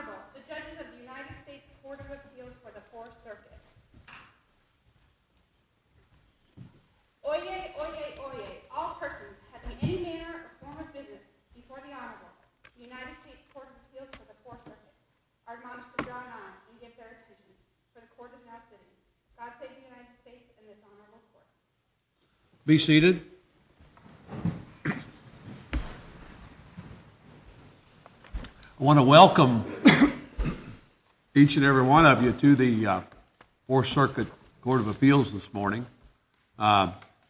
Honorable, the judges of the United States Court of Appeals for the 4th Circuit. Oyez, oyez, oyez, all persons having any manner or form of business before the Honorable, the United States Court of Appeals for the 4th Circuit, are admonished to draw an eye and give their opinion to the court of that city. God save the United States and this Honorable Court. Be seated. I want to welcome each and every one of you to the 4th Circuit Court of Appeals this morning,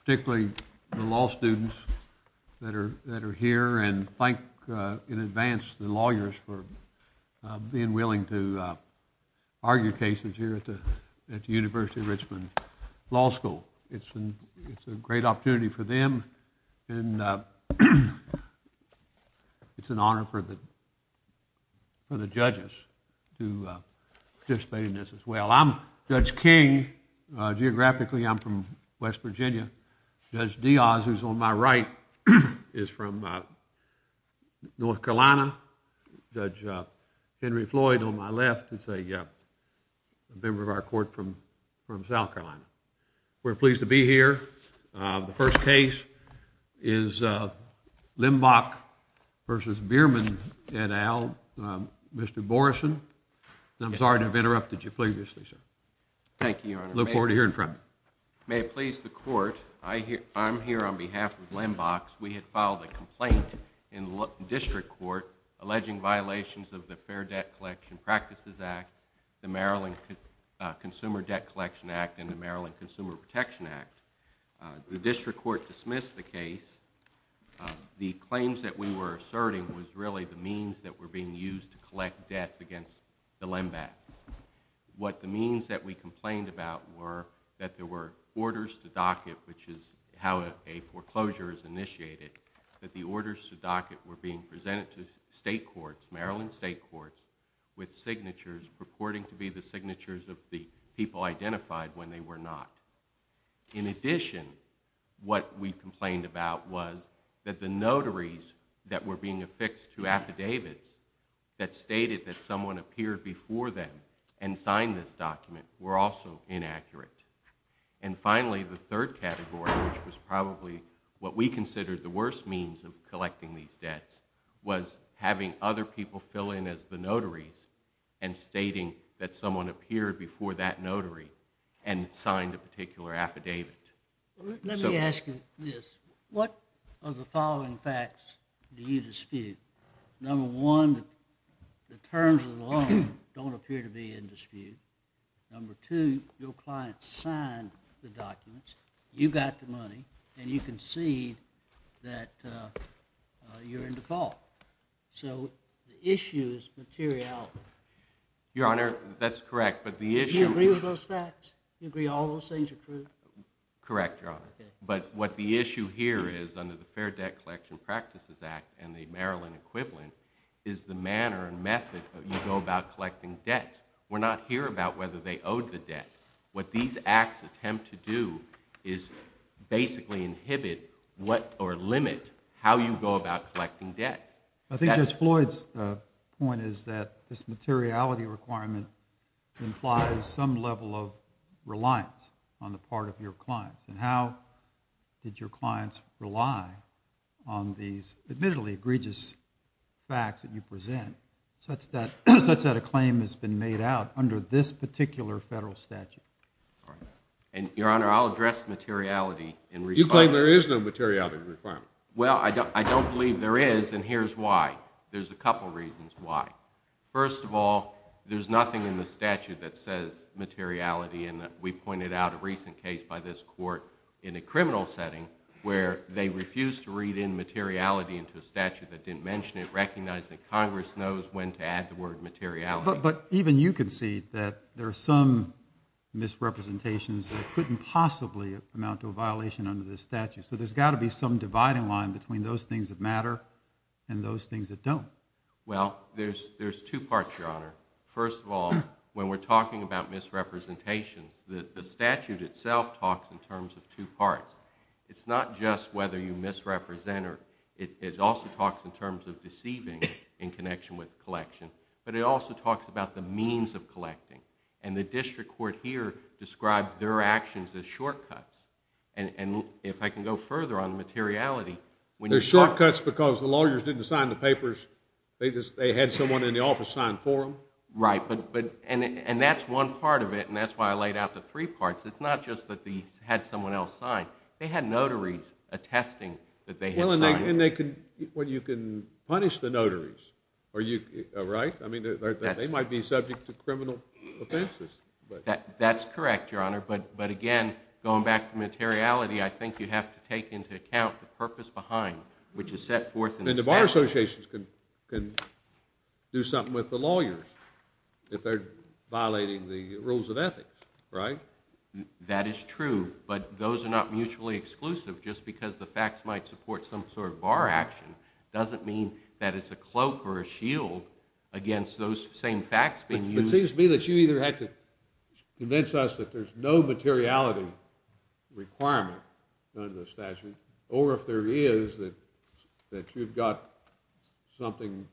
particularly the law students that are here and thank in advance the lawyers for being willing to argue cases here at the University of Richmond Law School. It's a great opportunity for them and it's an honor for the judges to participate in this as well. I'm Judge King. Geographically, I'm from West Virginia. Judge Diaz, who's on my right, is from North Carolina. Judge Henry Floyd on my left is a member of our court from South Carolina. We're pleased to be here. The first case is Lembach v. Bierman et al., Mr. Morrison. I'm sorry to have interrupted you previously, sir. Thank you, Your Honor. I look forward to hearing from you. May it please the court, I'm here on behalf of Lembach. We had filed a complaint in the district court alleging violations of the Fair Debt Collection Practices Act, the Maryland Consumer Debt Collection Act, and the Maryland Consumer Protection Act. The district court dismissed the case. The claims that we were asserting was really the means that were being used to collect debts against the Lembach. What the means that we complained about were that there were orders to docket, which is how a foreclosure is initiated, that the orders to docket were being presented to state courts, Maryland state courts, with signatures purporting to be the signatures of the people identified when they were not. In addition, what we complained about was that the notaries that were being affixed to affidavits that stated that someone appeared before them and signed this document were also inaccurate. And finally, the third category, which was probably what we considered the worst means of collecting these debts, was having other people fill in as the notaries and stating that someone appeared before that notary and signed a particular affidavit. Let me ask you this. What of the following facts do you dispute? Number one, the terms of the loan don't appear to be in dispute. Number two, your client signed the documents. You got the money, and you concede that you're in default. So the issue is materiality. Your Honor, that's correct. Do you agree with those facts? Correct, Your Honor. But what the issue here is under the Fair Debt Collection Practices Act and the Maryland equivalent is the manner and method that you go about collecting debt. We're not here about whether they owed the debt. What these acts attempt to do is basically inhibit or limit how you go about collecting debts. I think Judge Floyd's point is that this materiality requirement implies some level of reliance on the part of your clients and how did your clients rely on these admittedly egregious facts that you present such that a claim has been made out under this particular federal statute? Your Honor, I'll address materiality in response. You claim there is no materiality requirement. Well, I don't believe there is, and here's why. There's a couple reasons why. First of all, there's nothing in the statute that says materiality and we pointed out a recent case by this court in a criminal setting where they refused to read in materiality into a statute that didn't mention it, recognize that Congress knows when to add the word materiality. But even you can see that there are some misrepresentations that couldn't possibly amount to a violation under this statute. So there's got to be some dividing line between those things that matter and those things that don't. Well, there's two parts, Your Honor. First of all, when we're talking about misrepresentations, the statute itself talks in terms of two parts. It's not just whether you misrepresent or it also talks in terms of deceiving in connection with collection, but it also talks about the means of collecting. And the district court here describes their actions as shortcuts. And if I can go further on materiality, when you talk... They're shortcuts because the lawyers didn't sign the papers. They had someone in the office sign for them. Right, and that's one part of it, and that's why I laid out the three parts. It's not just that they had someone else sign. They had notaries attesting that they had signed. And you can punish the notaries, right? I mean, they might be subject to criminal offenses. That's correct, Your Honor, but again, going back to materiality, I think you have to take into account the purpose behind, which is set forth in the statute. And the bar associations can do something with the lawyers if they're violating the rules of ethics, right? That is true, but those are not mutually exclusive. Just because the facts might support some sort of bar action doesn't mean that it's a cloak or a shield against those same facts being used. It seems to me that you either had to convince us that there's no materiality requirement under the statute, or if there is, that you've got something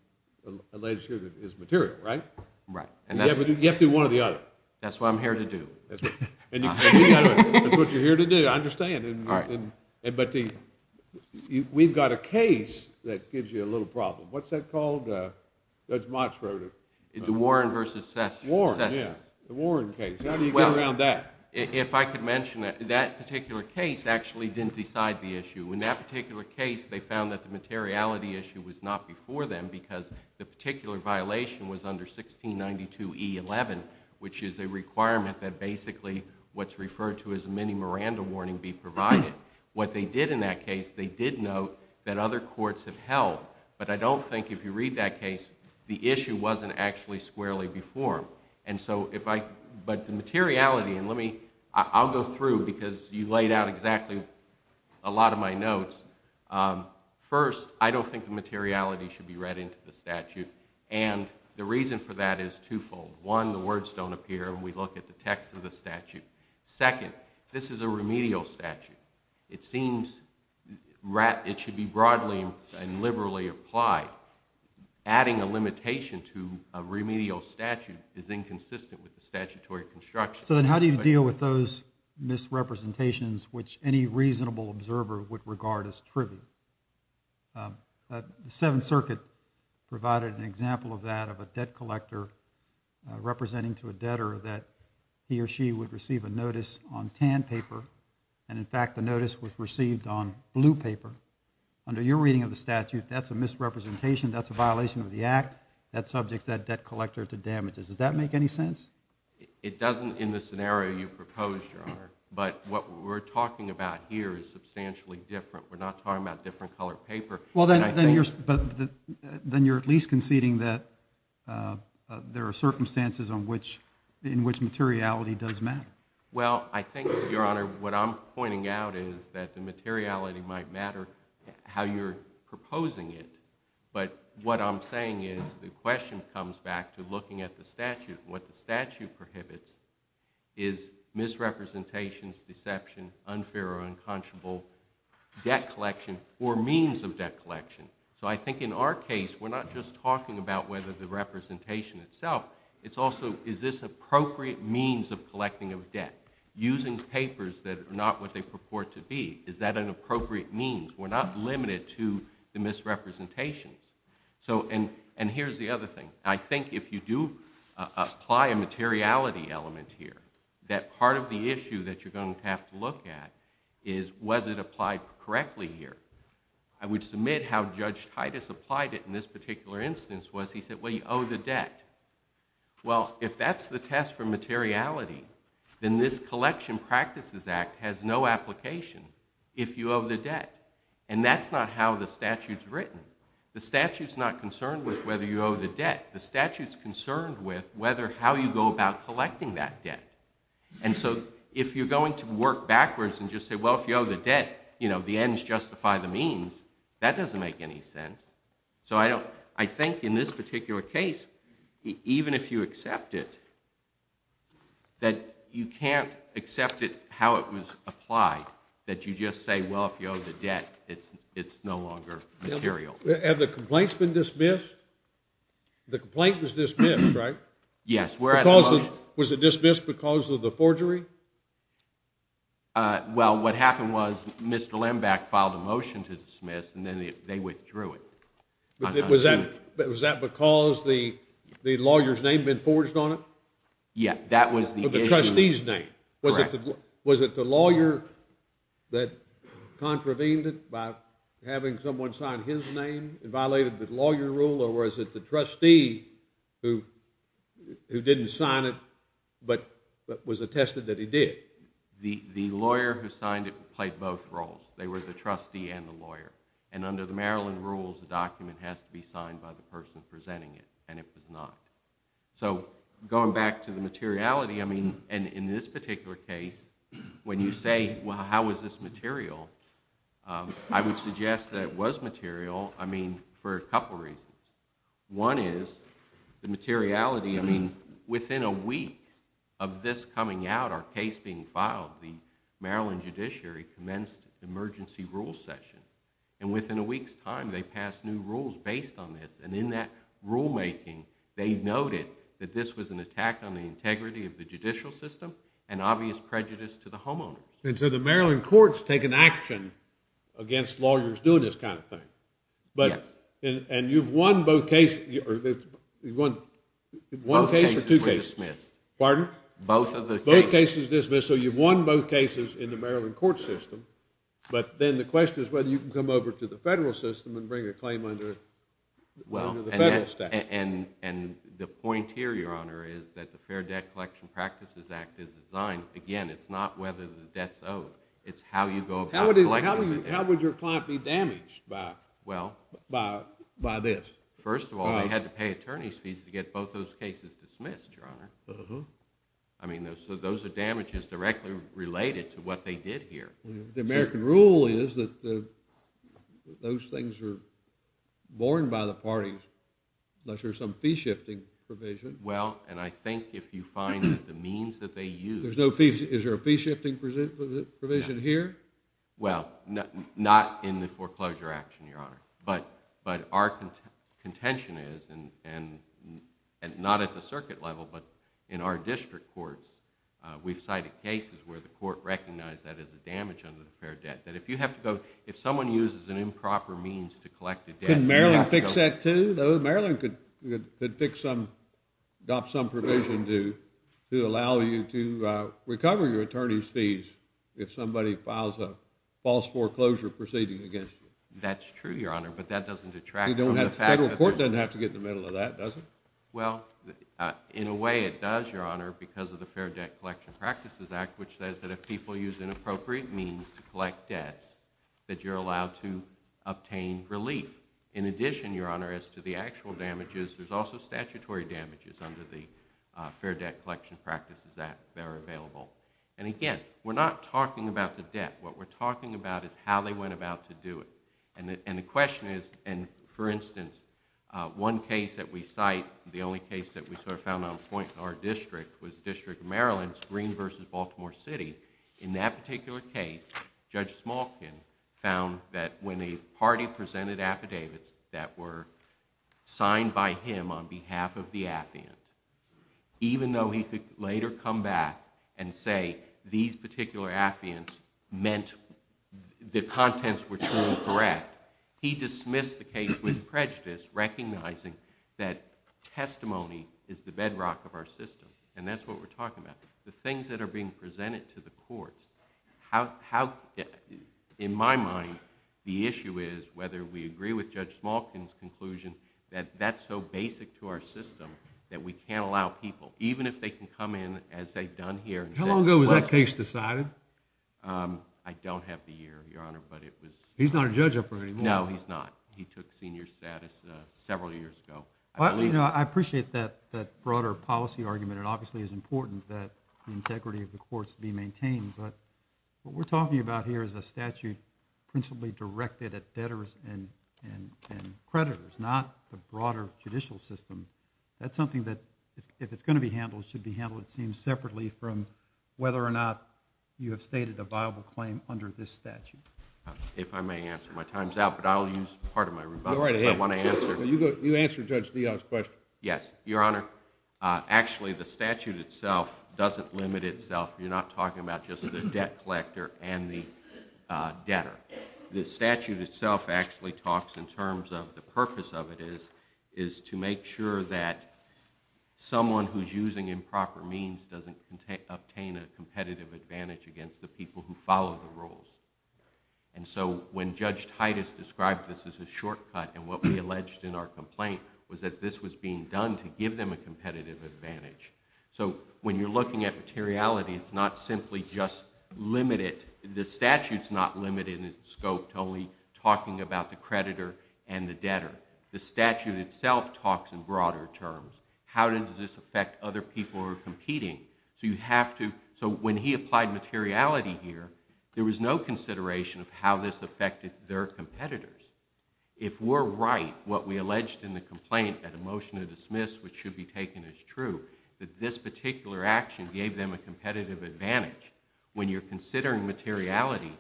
alleged here that is material, right? Right. But you have to do one or the other. That's what I'm here to do. That's what you're here to do, I understand. All right. But we've got a case that gives you a little problem. What's that called, Judge Motz wrote it? The Warren v. Sessions. Warren, yeah, the Warren case. How do you get around that? If I could mention it, that particular case actually didn't decide the issue. In that particular case, they found that the materiality issue was not before them because the particular violation was under 1692E11, which is a requirement that basically what's referred to as a mini Miranda warning be provided. What they did in that case, they did note that other courts have held. But I don't think if you read that case, the issue wasn't actually squarely before them. But the materiality, and I'll go through because you laid out exactly a lot of my notes. First, I don't think the materiality should be read into the statute. And the reason for that is twofold. One, the words don't appear when we look at the text of the statute. Second, this is a remedial statute. It seems it should be broadly and liberally applied. Adding a limitation to a remedial statute is inconsistent with the statutory construction. So then how do you deal with those misrepresentations which any reasonable observer would regard as trivial? The Seventh Circuit provided an example of that, of a debt collector representing to a debtor that he or she would receive a notice on tan paper. And in fact, the notice was received on blue paper. Under your reading of the statute, that's a misrepresentation. That's a violation of the Act. That subject's that debt collector to damages. Does that make any sense? It doesn't in the scenario you proposed, Your Honor. But what we're talking about here is substantially different. We're not talking about different colored paper. Well, then you're at least conceding that there are circumstances in which materiality does matter. Well, I think, Your Honor, what I'm pointing out is that the materiality might matter how you're proposing it. But what I'm saying is the question comes back to looking at the statute. What the statute prohibits is misrepresentations, deception, unfair or unconscionable debt collection, or means of debt collection. So I think in our case, we're not just talking about whether the representation itself, it's also is this appropriate means of collecting of debt? Using papers that are not what they purport to be, is that an appropriate means? We're not limited to the misrepresentations. And here's the other thing. I think if you do apply a materiality element here, that part of the issue that you're going to have to look at is was it applied correctly here? I would submit how Judge Titus applied it in this particular instance was he said, well, you owe the debt. Well, if that's the test for materiality, then this Collection Practices Act has no application if you owe the debt. And that's not how the statute's written. The statute's not concerned with whether you owe the debt. The statute's concerned with whether how you go about collecting that debt. And so if you're going to work backwards and just say, well, if you owe the debt, the ends justify the means, that doesn't make any sense. So I think in this particular case, even if you accept it, that you can't accept it how it was applied, that you just say, well, if you owe the debt, it's no longer material. Have the complaints been dismissed? The complaint was dismissed, right? Yes. Was it dismissed because of the forgery? Well, what happened was Mr. Lembach filed a motion to dismiss, and then they withdrew it. Was that because the lawyer's name had been forged on it? Yeah, that was the issue. The trustee's name. Correct. Was it the lawyer that contravened it by having someone sign his name and violated the lawyer rule, or was it the trustee who didn't sign it but was attested that he did? The lawyer who signed it played both roles. They were the trustee and the lawyer. And under the Maryland rules, the document has to be signed by the person presenting it, and it was not. So going back to the materiality, I mean, in this particular case, when you say, well, how is this material, I would suggest that it was material, I mean, for a couple reasons. One is the materiality. I mean, within a week of this coming out, our case being filed, the Maryland judiciary commenced the emergency rules session, and within a week's time, they passed new rules based on this, and in that rulemaking, they noted that this was an attack on the integrity of the judicial system and obvious prejudice to the homeowners. And so the Maryland courts take an action against lawyers doing this kind of thing. Yes. And you've won both cases. You've won one case or two cases? Both cases were dismissed. Pardon? Both of the cases. Both cases dismissed, so you've won both cases in the Maryland court system, but then the question is whether you can come over to the federal system and bring a claim under the federal statute. And the point here, Your Honor, is that the Fair Debt Collection Practices Act is designed, again, it's not whether the debt's owed. It's how you go about collecting the debt. How would your client be damaged by this? First of all, they had to pay attorney's fees to get both those cases dismissed, Your Honor. I mean, so those are damages directly related to what they did here. The American rule is that those things are borne by the parties, unless there's some fee-shifting provision. Well, and I think if you find that the means that they used... There's no fees. Is there a fee-shifting provision here? Well, not in the foreclosure action, Your Honor. But our contention is, and not at the circuit level, but in our district courts, we've cited cases where the court recognized that as a damage under the fair debt, that if you have to go, if someone uses an improper means to collect a debt... Can Maryland fix that, too, though? Maryland could adopt some provision to allow you to recover your attorney's fees if somebody files a false foreclosure proceeding against you. That's true, Your Honor, but that doesn't detract... The federal court doesn't have to get in the middle of that, does it? Well, in a way, it does, Your Honor, because of the Fair Debt Collection Practices Act, which says that if people use inappropriate means to collect debts, that you're allowed to obtain relief. In addition, Your Honor, as to the actual damages, there's also statutory damages under the Fair Debt Collection Practices Act that are available. And again, we're not talking about the debt. What we're talking about is how they went about to do it. And the question is, and for instance, one case that we cite, the only case that we sort of found on point in our district was District of Maryland's Green v. Baltimore City. In that particular case, Judge Smalkin found that when a party presented affidavits that were signed by him on behalf of the affiant, even though he could later come back and say these particular affiants meant the contents were true and correct, he dismissed the case with prejudice, recognizing that testimony is the bedrock of our system. And that's what we're talking about. The things that are being presented to the courts, in my mind, the issue is whether we agree with Judge Smalkin's conclusion that that's so basic to our system that we can't allow people, even if they can come in as they've done here... How long ago was that case decided? I don't have the year, Your Honor, but it was... He's not a judge up there anymore. No, he's not. He took senior status several years ago. I appreciate that broader policy argument. It obviously is important that the integrity of the courts be maintained, but what we're talking about here is a statute principally directed at debtors and creditors, not the broader judicial system. That's something that, if it's going to be handled, should be handled, it seems, separately from whether or not you have stated a viable claim under this statute. If I may answer, my time's out, but I'll use part of my rebuttal, because I want to answer... You answer Judge Leon's question. Yes, Your Honor. Actually, the statute itself doesn't limit itself. You're not talking about just the debt collector and the debtor. The statute itself actually talks in terms of the purpose of it is to make sure that someone who's using improper means doesn't obtain a competitive advantage against the people who follow the rules. And so when Judge Titus described this as a shortcut, and what we alleged in our complaint was that this was being done to give them a competitive advantage. So when you're looking at materiality, it's not simply just limited. The statute's not limited in its scope to only talking about the creditor and the debtor. The statute itself talks in broader terms. How does this affect other people who are competing? So you have to... So when he applied materiality here, there was no consideration of how this affected their competitors. If we're right, what we alleged in the complaint that a motion to dismiss, which should be taken as true, that this particular action gave them a competitive advantage, when you're considering materiality,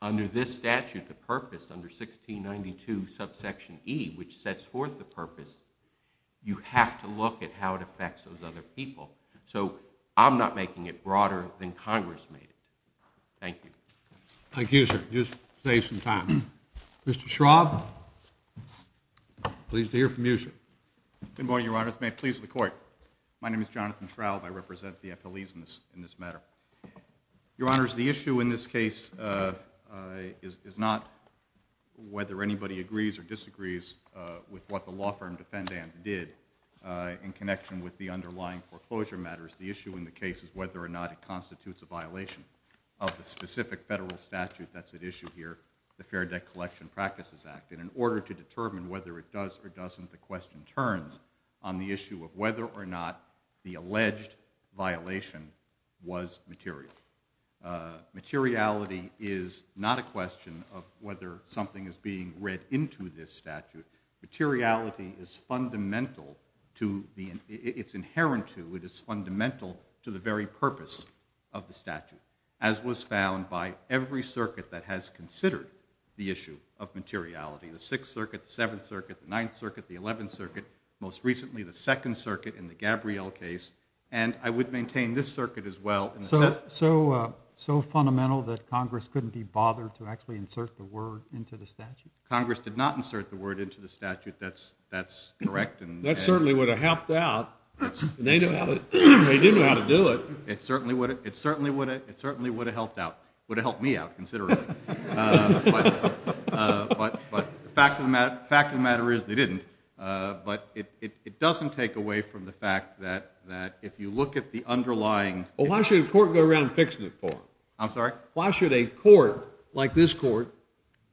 under this statute, the purpose, under 1692 subsection E, which sets forth the purpose, you have to look at how it affects those other people. So I'm not making it broader than Congress made it. Thank you. Thank you, sir. You just saved some time. Mr. Schraub? Pleased to hear from you, sir. Good morning, Your Honor. It's a please of the Court. My name is Jonathan Schraub. I represent the FLEs in this matter. Your Honors, the issue in this case is not whether anybody agrees or disagrees with what the law firm defendant did in connection with the underlying foreclosure matters. The issue in the case is whether or not it constitutes a violation of the specific federal statute that's at issue here, the Fair Debt Collection Practices Act. And in order to determine whether it does or doesn't, the question turns on the issue of whether or not the alleged violation was material. Materiality is not a question of whether something is being read into this statute. Materiality is fundamental to the... It's inherent to, it is fundamental to the very purpose of the statute, as was found by every circuit that has considered the issue of materiality. The Sixth Circuit, the Seventh Circuit, the Ninth Circuit, the Eleventh Circuit, most recently the Second Circuit in the Gabrielle case, and I would maintain this circuit as well. So fundamental that Congress couldn't be bothered to actually insert the word into the statute? Congress did not insert the word into the statute. That's correct. That certainly would have helped out. They didn't know how to do it. It certainly would have helped out. Would have helped me out, considerably. But the fact of the matter is they didn't. But it doesn't take away from the fact that if you look at the underlying... Well, why should a court go around fixing the court? I'm sorry? Why should a court, like this court,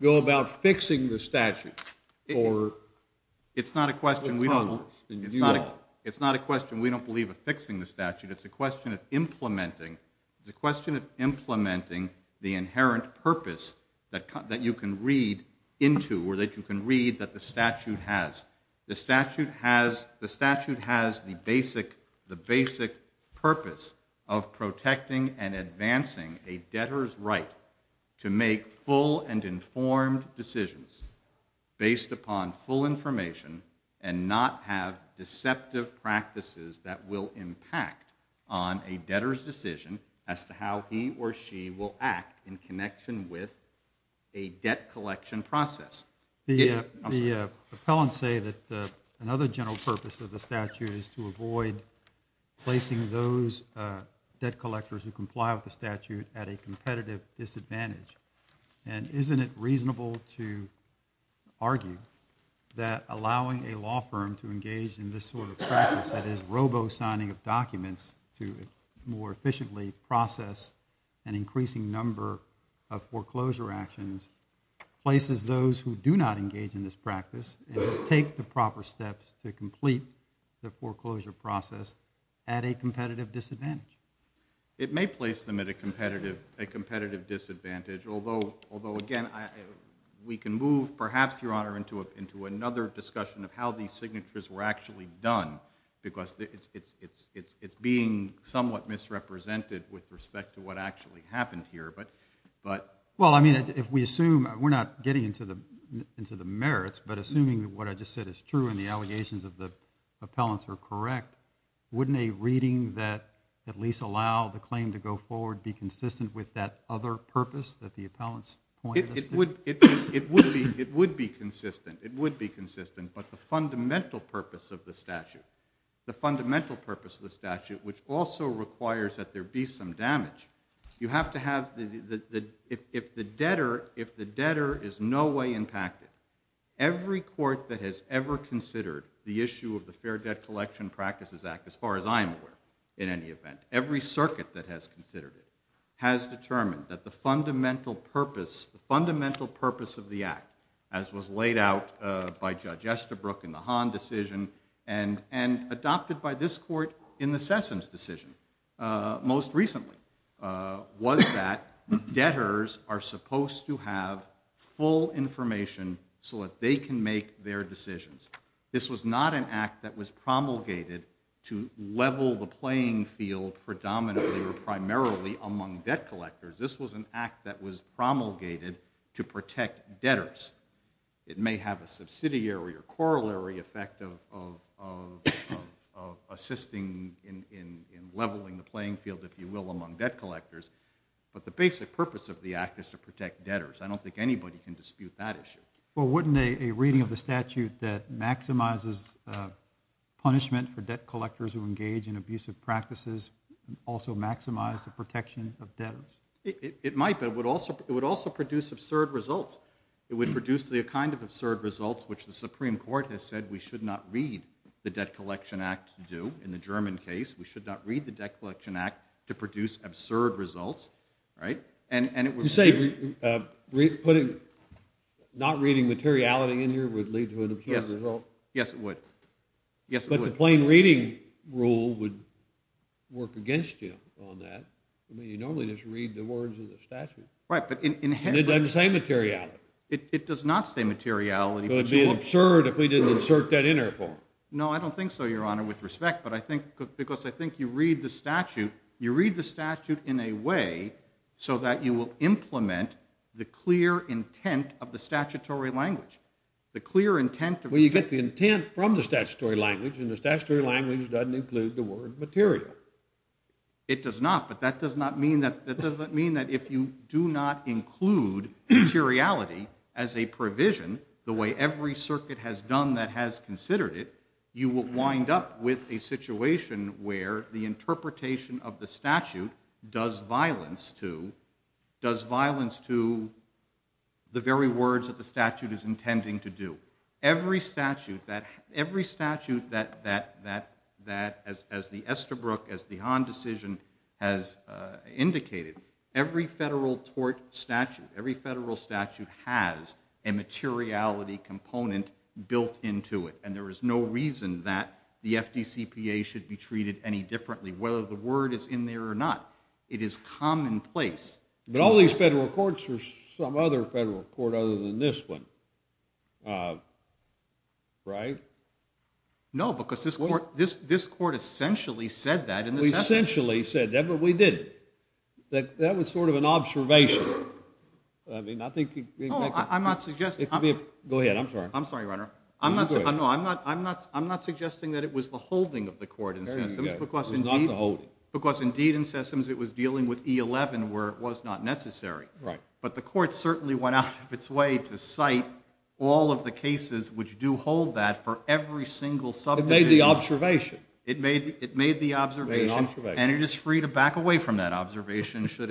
go about fixing the statute? It's not a question we don't... It's not a question we don't believe of fixing the statute. It's a question of implementing, it's a question of implementing the inherent purpose that you can read into, or that you can read that the statute has. The statute has the basic purpose of protecting and advancing a debtor's right to make full and informed decisions based upon full information and not have deceptive practices that will impact on a debtor's decision as to how he or she will act in connection with a debt collection process. The appellants say that another general purpose of the statute is to avoid placing those debt collectors who comply with the statute at a competitive disadvantage. And isn't it reasonable to argue that allowing a law firm to engage in this sort of practice, that is robo-signing of documents, to more efficiently process an increasing number of foreclosure actions, places those who do not engage in this practice and who take the proper steps to complete the foreclosure process at a competitive disadvantage? It may place them at a competitive disadvantage, although, again, we can move, perhaps, Your Honor, into another discussion of how these signatures were actually done, because it's being somewhat misrepresented with respect to what actually happened here, but... Well, I mean, if we assume... We're not getting into the merits, but assuming what I just said is true and the allegations of the appellants are correct, wouldn't a reading that at least allowed the claim to go forward be consistent with that other purpose that the appellants pointed us to? It would be consistent, it would be consistent, but the fundamental purpose of the statute, the fundamental purpose of the statute, which also requires that there be some damage, you have to have... If the debtor is in no way impacted, every court that has ever considered the issue of the Fair Debt Collection Practices Act, as far as I'm aware, in any event, every circuit that has considered it, has determined that the fundamental purpose, the fundamental purpose of the act, as was laid out by Judge Estabrook in the Hahn decision and adopted by this court in the Sessoms decision most recently, was that debtors are supposed to have full information so that they can make their decisions. This was not an act that was promulgated to level the playing field predominantly or primarily among debt collectors. This was an act that was promulgated to protect debtors. It may have a subsidiary or corollary effect of assisting in leveling the playing field, if you will, among debt collectors, but the basic purpose of the act is to protect debtors. I don't think anybody can dispute that issue. Well, wouldn't a reading of the statute that maximizes punishment for debt collectors who engage in abusive practices also maximize the protection of debtors? It might, but it would also produce absurd results. It would produce the kind of absurd results which the Supreme Court has said we should not read the Debt Collection Act to do. In the German case, we should not read the Debt Collection Act to produce absurd results, right? You say not reading materiality in here would lead to an absurd result? Yes, it would. But the plain reading rule would work against you on that. I mean, you normally just read the words of the statute. It doesn't say materiality. It does not say materiality. It would be absurd if we didn't insert that in there. No, I don't think so, Your Honor, with respect, because I think you read the statute in a way so that you will implement the clear intent of the statutory language. Well, you get the intent from the statutory language, and the statutory language doesn't include the word material. It does not, but that does not mean that if you do not include materiality as a provision, the way every circuit has done that has considered it, you will wind up with a situation where the interpretation of the statute does violence to the very words that the statute is intending to do. Every statute that, as the Estabrook, as the Hahn decision has indicated, every federal tort statute, every federal statute has a materiality component built into it, and there is no reason that the FDCPA should be treated any differently, whether the word is in there or not. It is commonplace. But all these federal courts are some other federal court other than this one, right? No, because this court essentially said that. We essentially said that, but we didn't. That was sort of an observation. I mean, I think... Oh, I'm not suggesting... Go ahead, I'm sorry. I'm sorry, Your Honor. I'm not suggesting that it was the holding of the court in Sessoms, because indeed in Sessoms it was dealing with E11 where it was not necessary. But the court certainly went out of its way to cite all of the cases which do hold that for every single subdivision. It made the observation. It made the observation, and it is free to back away from that observation should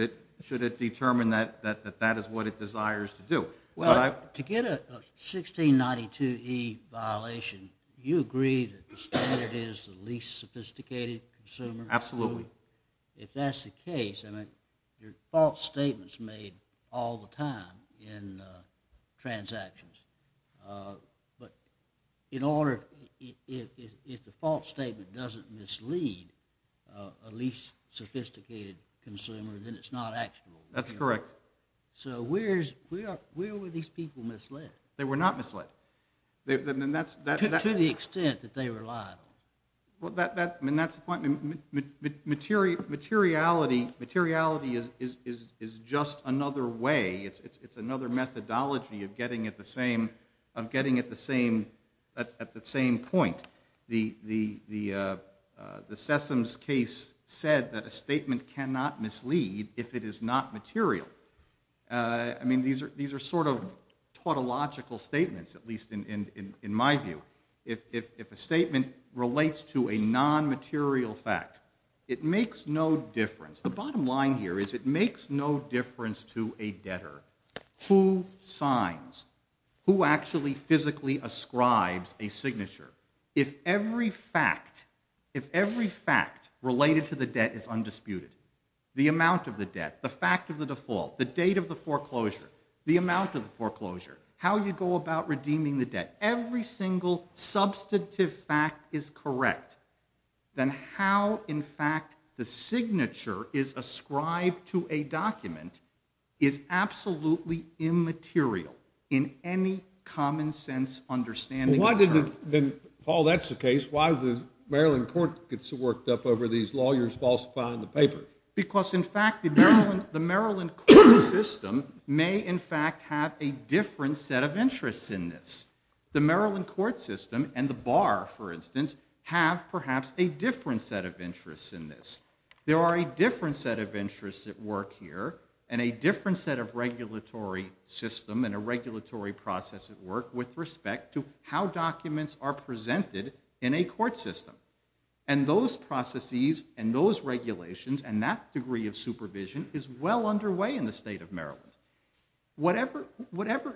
it determine that that is what it desires to do. Well, to get a 1692E violation, you agree that the standard is the least sophisticated consumer? Absolutely. If that's the case, I mean, your default statement's made all the time in transactions. But if the default statement doesn't mislead a least sophisticated consumer, then it's not actionable. That's correct. So where were these people misled? They were not misled. To the extent that they relied on. I mean, that's the point. Materiality is just another way. It's another methodology of getting at the same point. The Sessoms case said that a statement cannot mislead if it is not material. I mean, these are sort of tautological statements, at least in my view. If a statement relates to a non-material fact, it makes no difference. The bottom line here is it makes no difference to a debtor who signs, who actually physically ascribes a signature. If every fact related to the debt is undisputed, the amount of the debt, the fact of the default, the date of the foreclosure, the amount of the foreclosure, how you go about redeeming the debt, every single substantive fact is correct, then how, in fact, the signature is ascribed to a document is absolutely immaterial in any common sense understanding. Paul, that's the case. Why does the Maryland court get so worked up over these lawyers falsifying the paper? Because, in fact, the Maryland court system may, in fact, have a different set of interests in this. The Maryland court system and the bar, for instance, have perhaps a different set of interests in this. There are a different set of interests at work here and a different set of regulatory system and a regulatory process at work with respect to how documents are presented in a court system. And those processes and those regulations and that degree of supervision is well underway in the state of Maryland. Whatever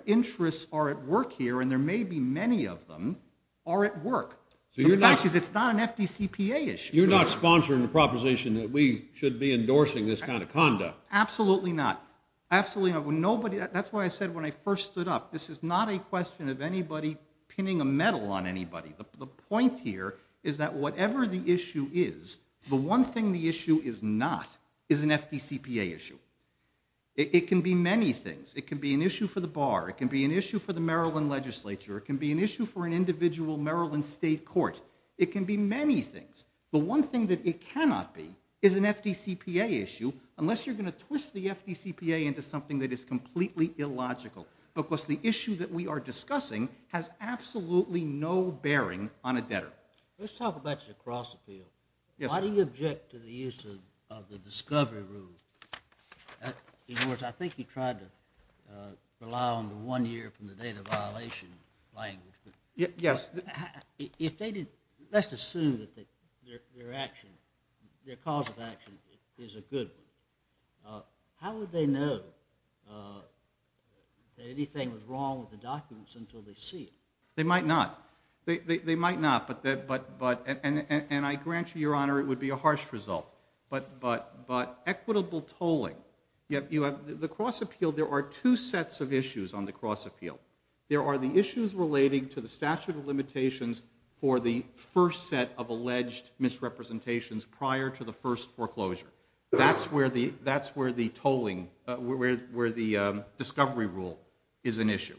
interests are at work here, and there may be many of them, are at work. The fact is it's not an FDCPA issue. You're not sponsoring the proposition that we should be endorsing this kind of conduct. Absolutely not. Absolutely not. That's why I said when I first stood up, this is not a question of anybody pinning a medal on anybody. The point here is that whatever the issue is, the one thing the issue is not is an FDCPA issue. It can be many things. It can be an issue for the bar. It can be an issue for the Maryland legislature. It can be an issue for an individual Maryland state court. It can be many things. The one thing that it cannot be is an FDCPA issue unless you're going to twist the FDCPA into something that is completely illogical. Of course, the issue that we are discussing has absolutely no bearing on a debtor. Let's talk about your cross-appeal. Why do you object to the use of the discovery rule? In other words, I think you tried to rely on the one year from the data violation language. Yes. Let's assume that their cause of action is a good one. How would they know that anything was wrong with the documents until they see it? They might not. They might not, and I grant you, Your Honor, it would be a harsh result. But equitable tolling, the cross-appeal, there are two sets of issues on the cross-appeal. There are the issues relating to the statute of limitations for the first set of alleged misrepresentations prior to the first foreclosure. That's where the discovery rule is an issue.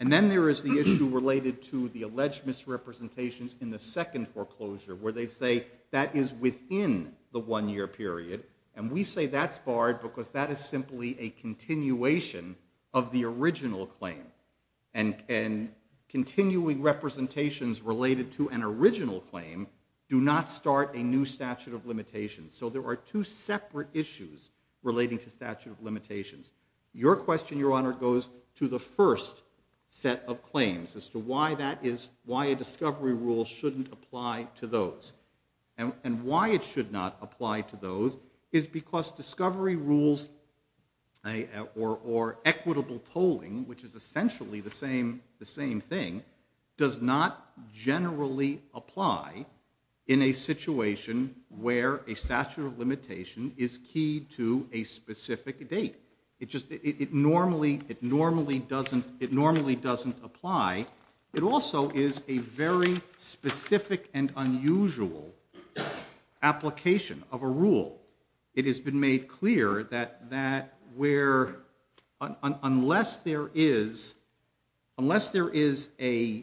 And then there is the issue related to the alleged misrepresentations in the second foreclosure where they say that is within the one year period, and we say that's barred because that is simply a continuation of the original claim. And continuing representations related to an original claim do not start a new statute of limitations. So there are two separate issues relating to statute of limitations. Your question, Your Honor, goes to the first set of claims as to why a discovery rule shouldn't apply to those. And why it should not apply to those is because discovery rules or equitable tolling, which is essentially the same thing, does not generally apply in a situation where a statute of limitation is key to a specific date. It normally doesn't apply. It also is a very specific and unusual application of a rule. It has been made clear that unless there is a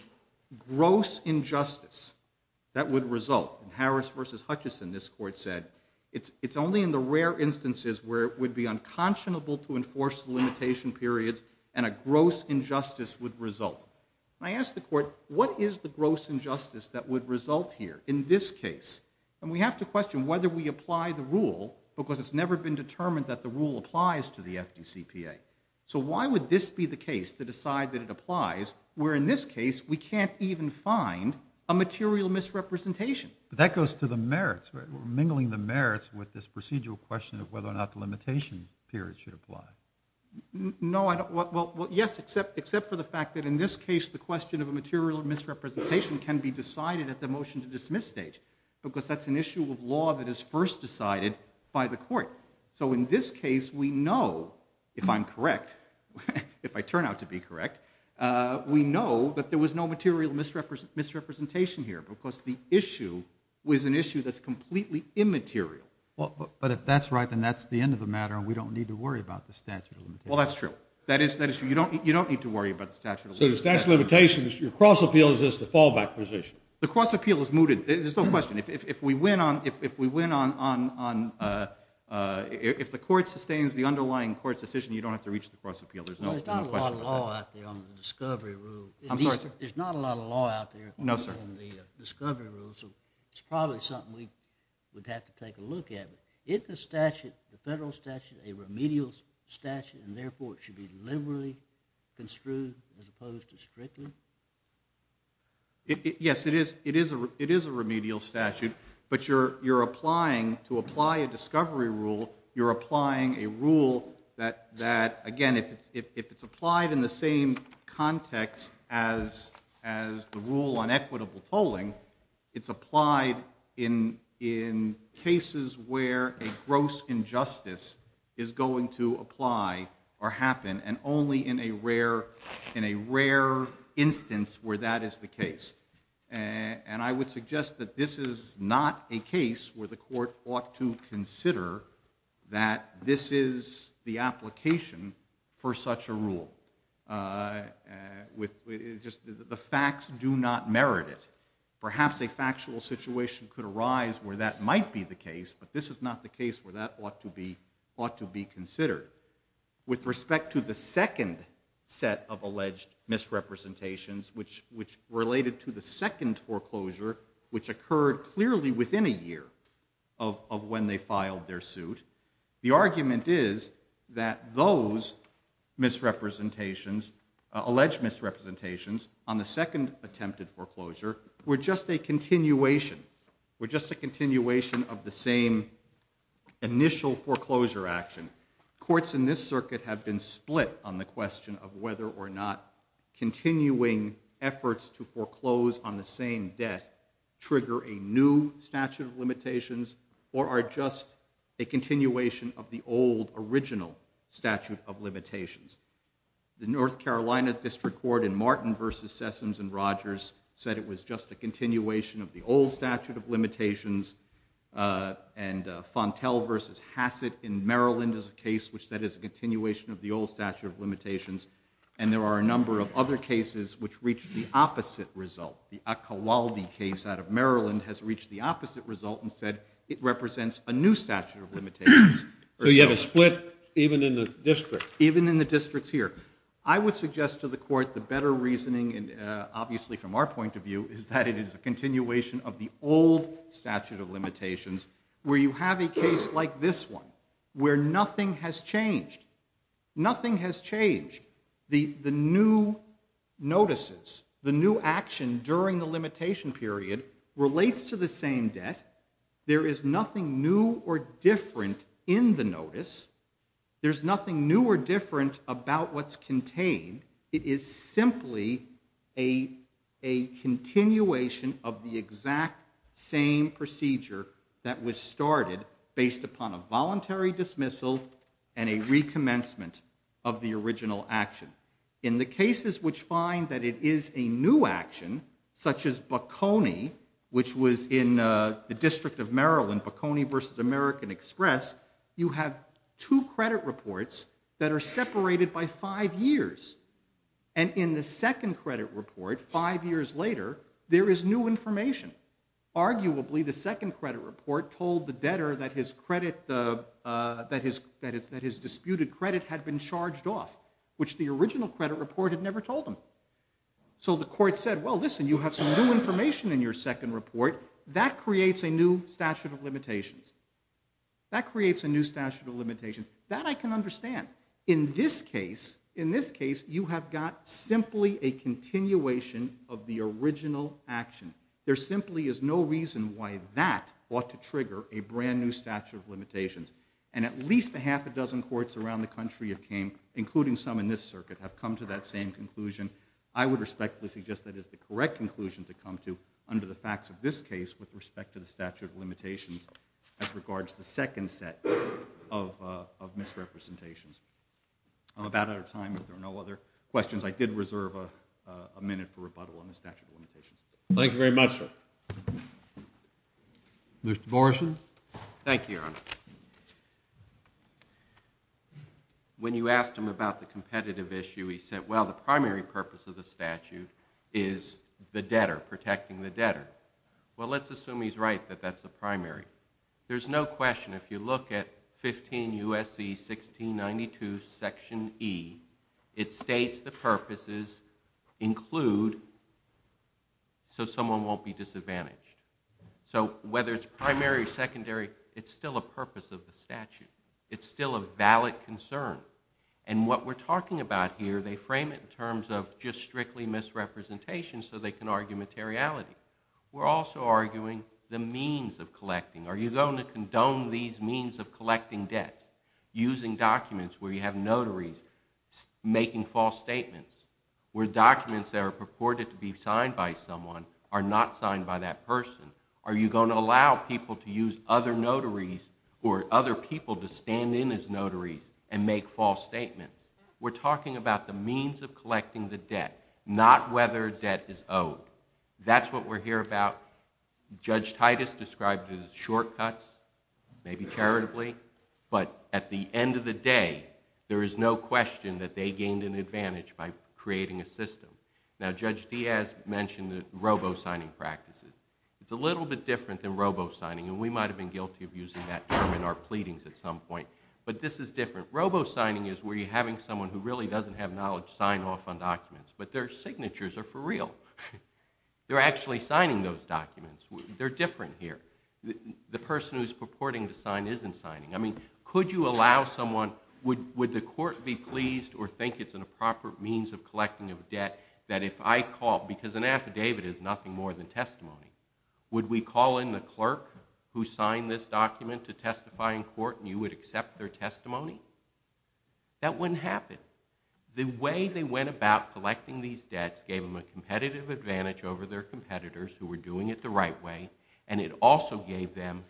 gross injustice that would result, and Harris versus Hutchison, this court said, it's only in the rare instances where it would be unconscionable to enforce the limitation periods and a gross injustice would result. I ask the court, what is the gross injustice that would result here in this case? And we have to question whether we apply the rule because it's never been determined that the rule applies to the FDCPA. So why would this be the case to decide that it applies where in this case we can't even find a material misrepresentation? But that goes to the merits, right? We're mingling the merits with this procedural question of whether or not the limitation period should apply. No, well, yes, except for the fact that in this case the question of a material misrepresentation can be decided at the motion to dismiss stage because that's an issue of law that is first decided by the court. So in this case we know, if I'm correct, if I turn out to be correct, we know that there was no material misrepresentation here because the issue was an issue that's completely immaterial. But if that's right, then that's the end of the matter and we don't need to worry about the statute of limitations. Well, that's true. That is true. You don't need to worry about the statute of limitations. So the statute of limitations, your cross-appeal is just a fallback position. The cross-appeal is mooted. There's no question. If we win on... If the court sustains the underlying court's decision, you don't have to reach the cross-appeal. There's no question about that. Well, there's not a lot of law out there on the discovery rule. I'm sorry, sir? There's not a lot of law out there on the discovery rule, so it's probably something we'd have to take a look at. Is the statute, the federal statute, a remedial statute, and therefore it should be liberally construed as opposed to strictly? Yes, it is a remedial statute, but you're applying, to apply a discovery rule, you're applying a rule that, again, if it's applied in the same context as the rule on equitable tolling, it's applied in cases where a gross injustice is going to apply or happen, and only in a rare instance where that is the case. And I would suggest that this is not a case where the court ought to consider that this is the application for such a rule. The facts do not merit it. Perhaps a factual situation could arise where that might be the case, but this is not the case where that ought to be considered. With respect to the second set of alleged misrepresentations, which related to the second foreclosure, which occurred clearly within a year of when they filed their suit, the argument is that those misrepresentations, alleged misrepresentations, on the second attempted foreclosure were just a continuation, were just a continuation of the same initial foreclosure action. Courts in this circuit have been split on the question of whether or not continuing efforts to foreclose on the same debt trigger a new statute of limitations or are just a continuation of the old, original statute of limitations. The North Carolina District Court in Martin v. Sessoms and Rogers said it was just a continuation of the old statute of limitations, and Fontel v. Hassett in Maryland is a case which that is a continuation of the old statute of limitations, and there are a number of other cases which reach the opposite result. The Akkawalde case out of Maryland has reached the opposite result and said it represents a new statute of limitations. So you have a split even in the district? Even in the districts here. I would suggest to the court the better reasoning, obviously from our point of view, is that it is a continuation of the old statute of limitations where you have a case like this one where nothing has changed. Nothing has changed. The new notices, the new action during the limitation period relates to the same debt. There is nothing new or different in the notice. There's nothing new or different about what's contained. It is simply a continuation of the exact same procedure that was started based upon a voluntary dismissal and a recommencement of the original action. In the cases which find that it is a new action, such as Bocconi, which was in the District of Maryland, Bocconi v. American Express, you have two credit reports that are separated by five years. And in the second credit report, five years later, there is new information. Arguably, the second credit report told the debtor that his disputed credit had been charged off, which the original credit report had never told him. So the court said, well, listen, you have some new information in your second report. That creates a new statute of limitations. That creates a new statute of limitations. That I can understand. In this case, you have got simply a continuation of the original action. There simply is no reason why that ought to trigger a brand new statute of limitations. And at least a half a dozen courts around the country have came, including some in this circuit, have come to that same conclusion. I would respectfully suggest that is the correct conclusion to come to under the facts of this case with respect to the statute of limitations as regards the second set of misrepresentations. I'm about out of time. If there are no other questions, I did reserve a minute for rebuttal Thank you very much, sir. Mr. Morrison? Thank you, Your Honor. When you asked him about the competitive issue, he said, well, the primary purpose of the statute is the debtor, protecting the debtor. Well, let's assume he's right that that's the primary. There's no question. If you look at 15 U.S.C. 1692, Section E, it states the purposes so someone won't be disadvantaged. So whether it's primary or secondary, it's still a purpose. It's still a purpose of the statute. It's still a valid concern. And what we're talking about here, they frame it in terms of just strictly misrepresentation so they can argue materiality. We're also arguing the means of collecting. Are you going to condone these means of collecting debts using documents where you have notaries making false statements where documents that are purported to be signed by someone are not signed by that person? Are you going to allow people to use other notaries or other people to stand in as notaries and make false statements? We're talking about the means of collecting the debt, not whether debt is owed. That's what we're here about. Judge Titus described it as shortcuts, maybe charitably, but at the end of the day, there is no question that they gained an advantage by creating a system. Now, Judge Diaz mentioned robo-signing practices. It's a little bit different than robo-signing, and we might have been guilty of using that term in our pleadings at some point, but this is different. Robo-signing is where you're having someone who really doesn't have knowledge sign off on documents, but their signatures are for real. They're actually signing those documents. They're different here. The person who's purporting to sign isn't signing. I mean, could you allow someone... Would the court be pleased or think it's an improper means of collecting a debt that if I call... Because an affidavit is nothing more than testimony. Would we call in the clerk who signed this document to testify in court, and you would accept their testimony? That wouldn't happen. The way they went about collecting these debts gave them a competitive advantage over their competitors who were doing it the right way, and it also gave them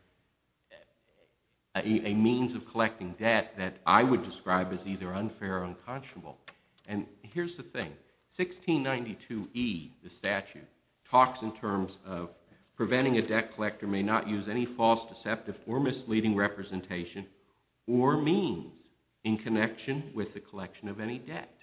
a means of collecting debt that I would describe as either unfair or unconscionable. And here's the thing. 1692E, the statute, talks in terms of preventing a debt collector may not use any false, deceptive, or misleading representation or means in connection with the collection of any debt.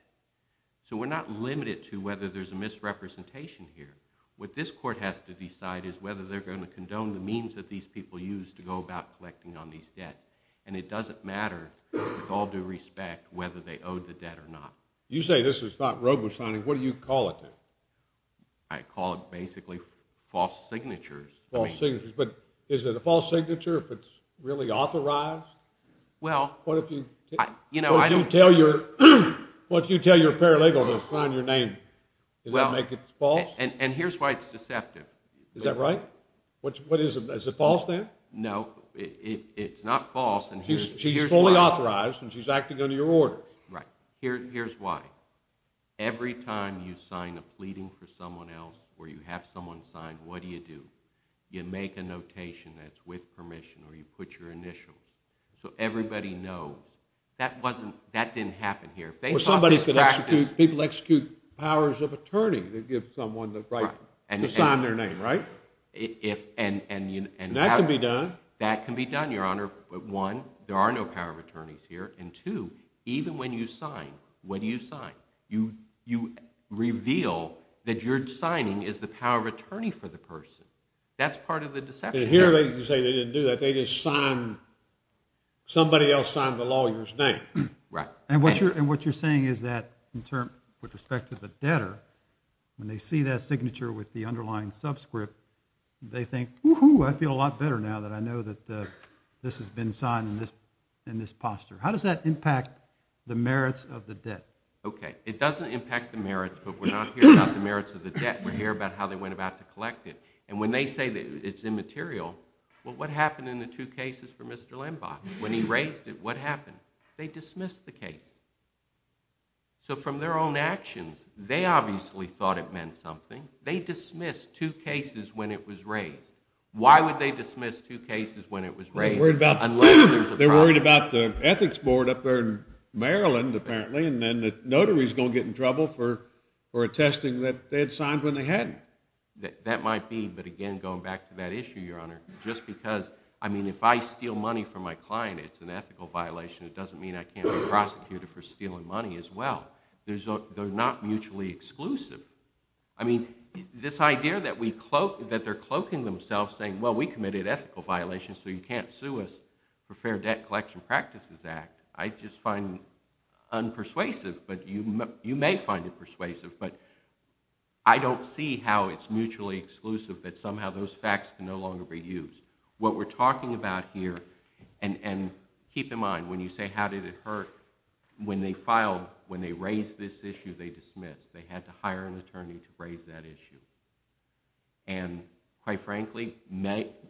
So we're not limited to whether there's a misrepresentation here. What this court has to decide is whether they're going to condone the means that these people used to go about collecting on these debts, and it doesn't matter with all due respect whether they owed the debt or not. You say this is not robo-signing. What do you call it, then? I call it basically false signatures. False signatures. But is it a false signature if it's really authorized? Well, you know, I... What if you tell your paralegal to sign your name? Does that make it false? And here's why it's deceptive. Is that right? Is it false, then? No, it's not false. She's fully authorized, and she's acting under your orders. Right. Here's why. Every time you sign a pleading for someone else or you have someone sign, what do you do? You make a notation that's with permission or you put your initials. So everybody knows. That didn't happen here. People execute powers of attorney to give someone the right to sign their name, right? Right. And that can be done. That can be done, Your Honor. One, there are no power of attorneys here. And two, even when you sign, what do you sign? You reveal that your signing is the power of attorney for the person. That's part of the deception. And here they can say they didn't do that. They just signed... Somebody else signed the lawyer's name. Right. And what you're saying is that with respect to the debtor, when they see that signature with the underlying subscript, they think, whoo-hoo, I feel a lot better now that I know that this has been signed in this posture. How does that impact the merits of the debt? Okay. It doesn't impact the merits, but we're not here about the merits of the debt. We're here about how they went about to collect it. And when they say that it's immaterial, well, what happened in the two cases for Mr. Lembach? When he raised it, what happened? They dismissed the case. So from their own actions, they obviously thought it meant something. They dismissed two cases when it was raised. Why would they dismiss two cases when it was raised unless there's a problem? They're worried about the ethics board up there in Maryland, apparently, and then the notary's going to get in trouble for attesting that they had signed when they hadn't. That might be, but again, going back to that issue, Your Honor, just because, I mean, if I steal money from my client, it's an ethical violation, it doesn't mean I can't be prosecuted for stealing money as well. They're not mutually exclusive. I mean, this idea that they're cloaking themselves, saying, well, we committed ethical violations, so you can't sue us for Fair Debt Collection Practices Act, I just find unpersuasive, but you may find it persuasive, but I don't see how it's mutually exclusive, that somehow those facts can no longer be used. What we're talking about here, and keep in mind, when you say how did it hurt, when they filed, when they raised this issue, they dismissed. They had to hire an attorney to raise that issue. And, quite frankly,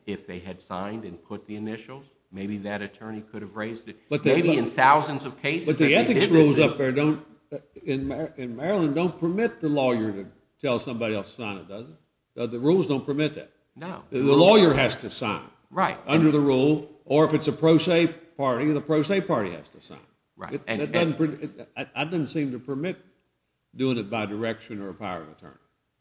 if they had signed and put the initials, maybe that attorney could have raised it, maybe in thousands of cases that they did this issue. But the ethics rules up there in Maryland don't permit the lawyer to tell somebody else to sign it, does it? The rules don't permit that. No. The lawyer has to sign under the rule, or if it's a pro se party, the pro se party has to sign. That doesn't seem to permit doing it by direction or a power of attorney.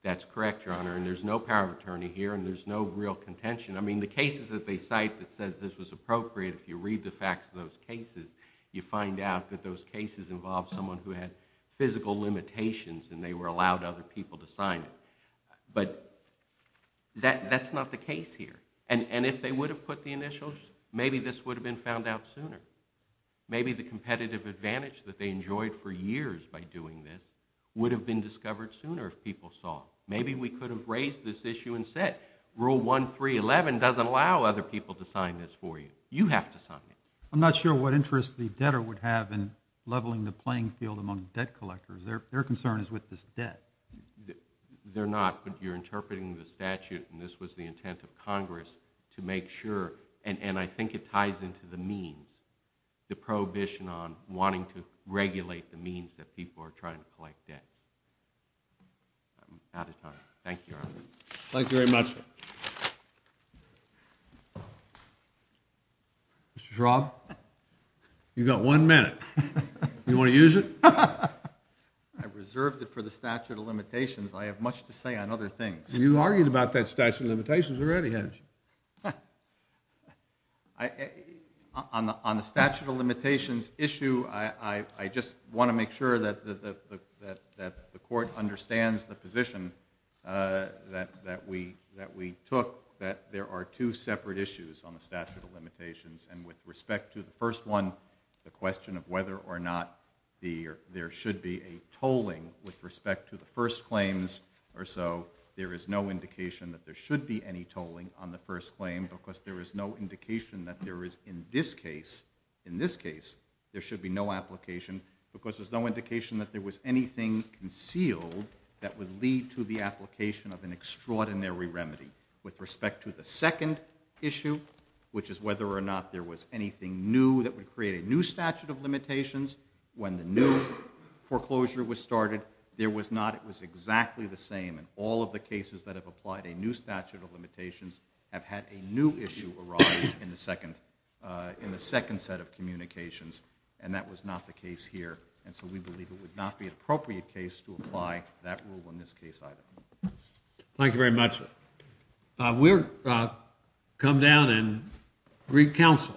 That's correct, Your Honor, and there's no power of attorney here, and there's no real contention. I mean, the cases that they cite that said this was appropriate, if you read the facts of those cases, you find out that those cases involved someone who had physical limitations, and they were allowed other people to sign it. But that's not the case here. And if they would have put the initials, maybe this would have been found out sooner. Maybe the competitive advantage that they enjoyed for years by doing this would have been discovered sooner if people saw it. Maybe we could have raised this issue and said, rule 1311 doesn't allow other people to sign this for you. You have to sign it. I'm not sure what interest the debtor would have in leveling the playing field among debt collectors. Their concern is with this debt. They're not, but you're interpreting the statute and this was the intent of Congress to make sure, and I think it ties into the means, the prohibition on wanting to regulate the means that people are trying to collect debts. I'm out of time. Thank you, Your Honor. Thank you very much, sir. Mr. Shroff, you've got one minute. You want to use it? I reserved it for the statute of limitations. I have much to say on other things. You argued about that statute of limitations already, hadn't you? On the statute of limitations issue, I just want to make sure that the court understands the position that we took, that there are two separate issues on the statute of limitations, and with respect to the first one, the question of whether or not there should be a tolling with respect to the first claims or so, there is no indication that there should be any tolling on the first claim because there is no indication that there is in this case, there should be no application because there's no indication that there was anything concealed that would lead to the application of an extraordinary remedy. With respect to the second issue, which is whether or not there was anything new that would create a new statute of limitations when the new foreclosure was started, there was not. It was exactly the same in all of the cases that have applied a new statute of limitations have had a new issue arise in the second set of communications, and that was not the case here, and so we believe it would not be an appropriate case to apply that rule in this case either. Thank you very much, sir. We'll come down and seek counsel.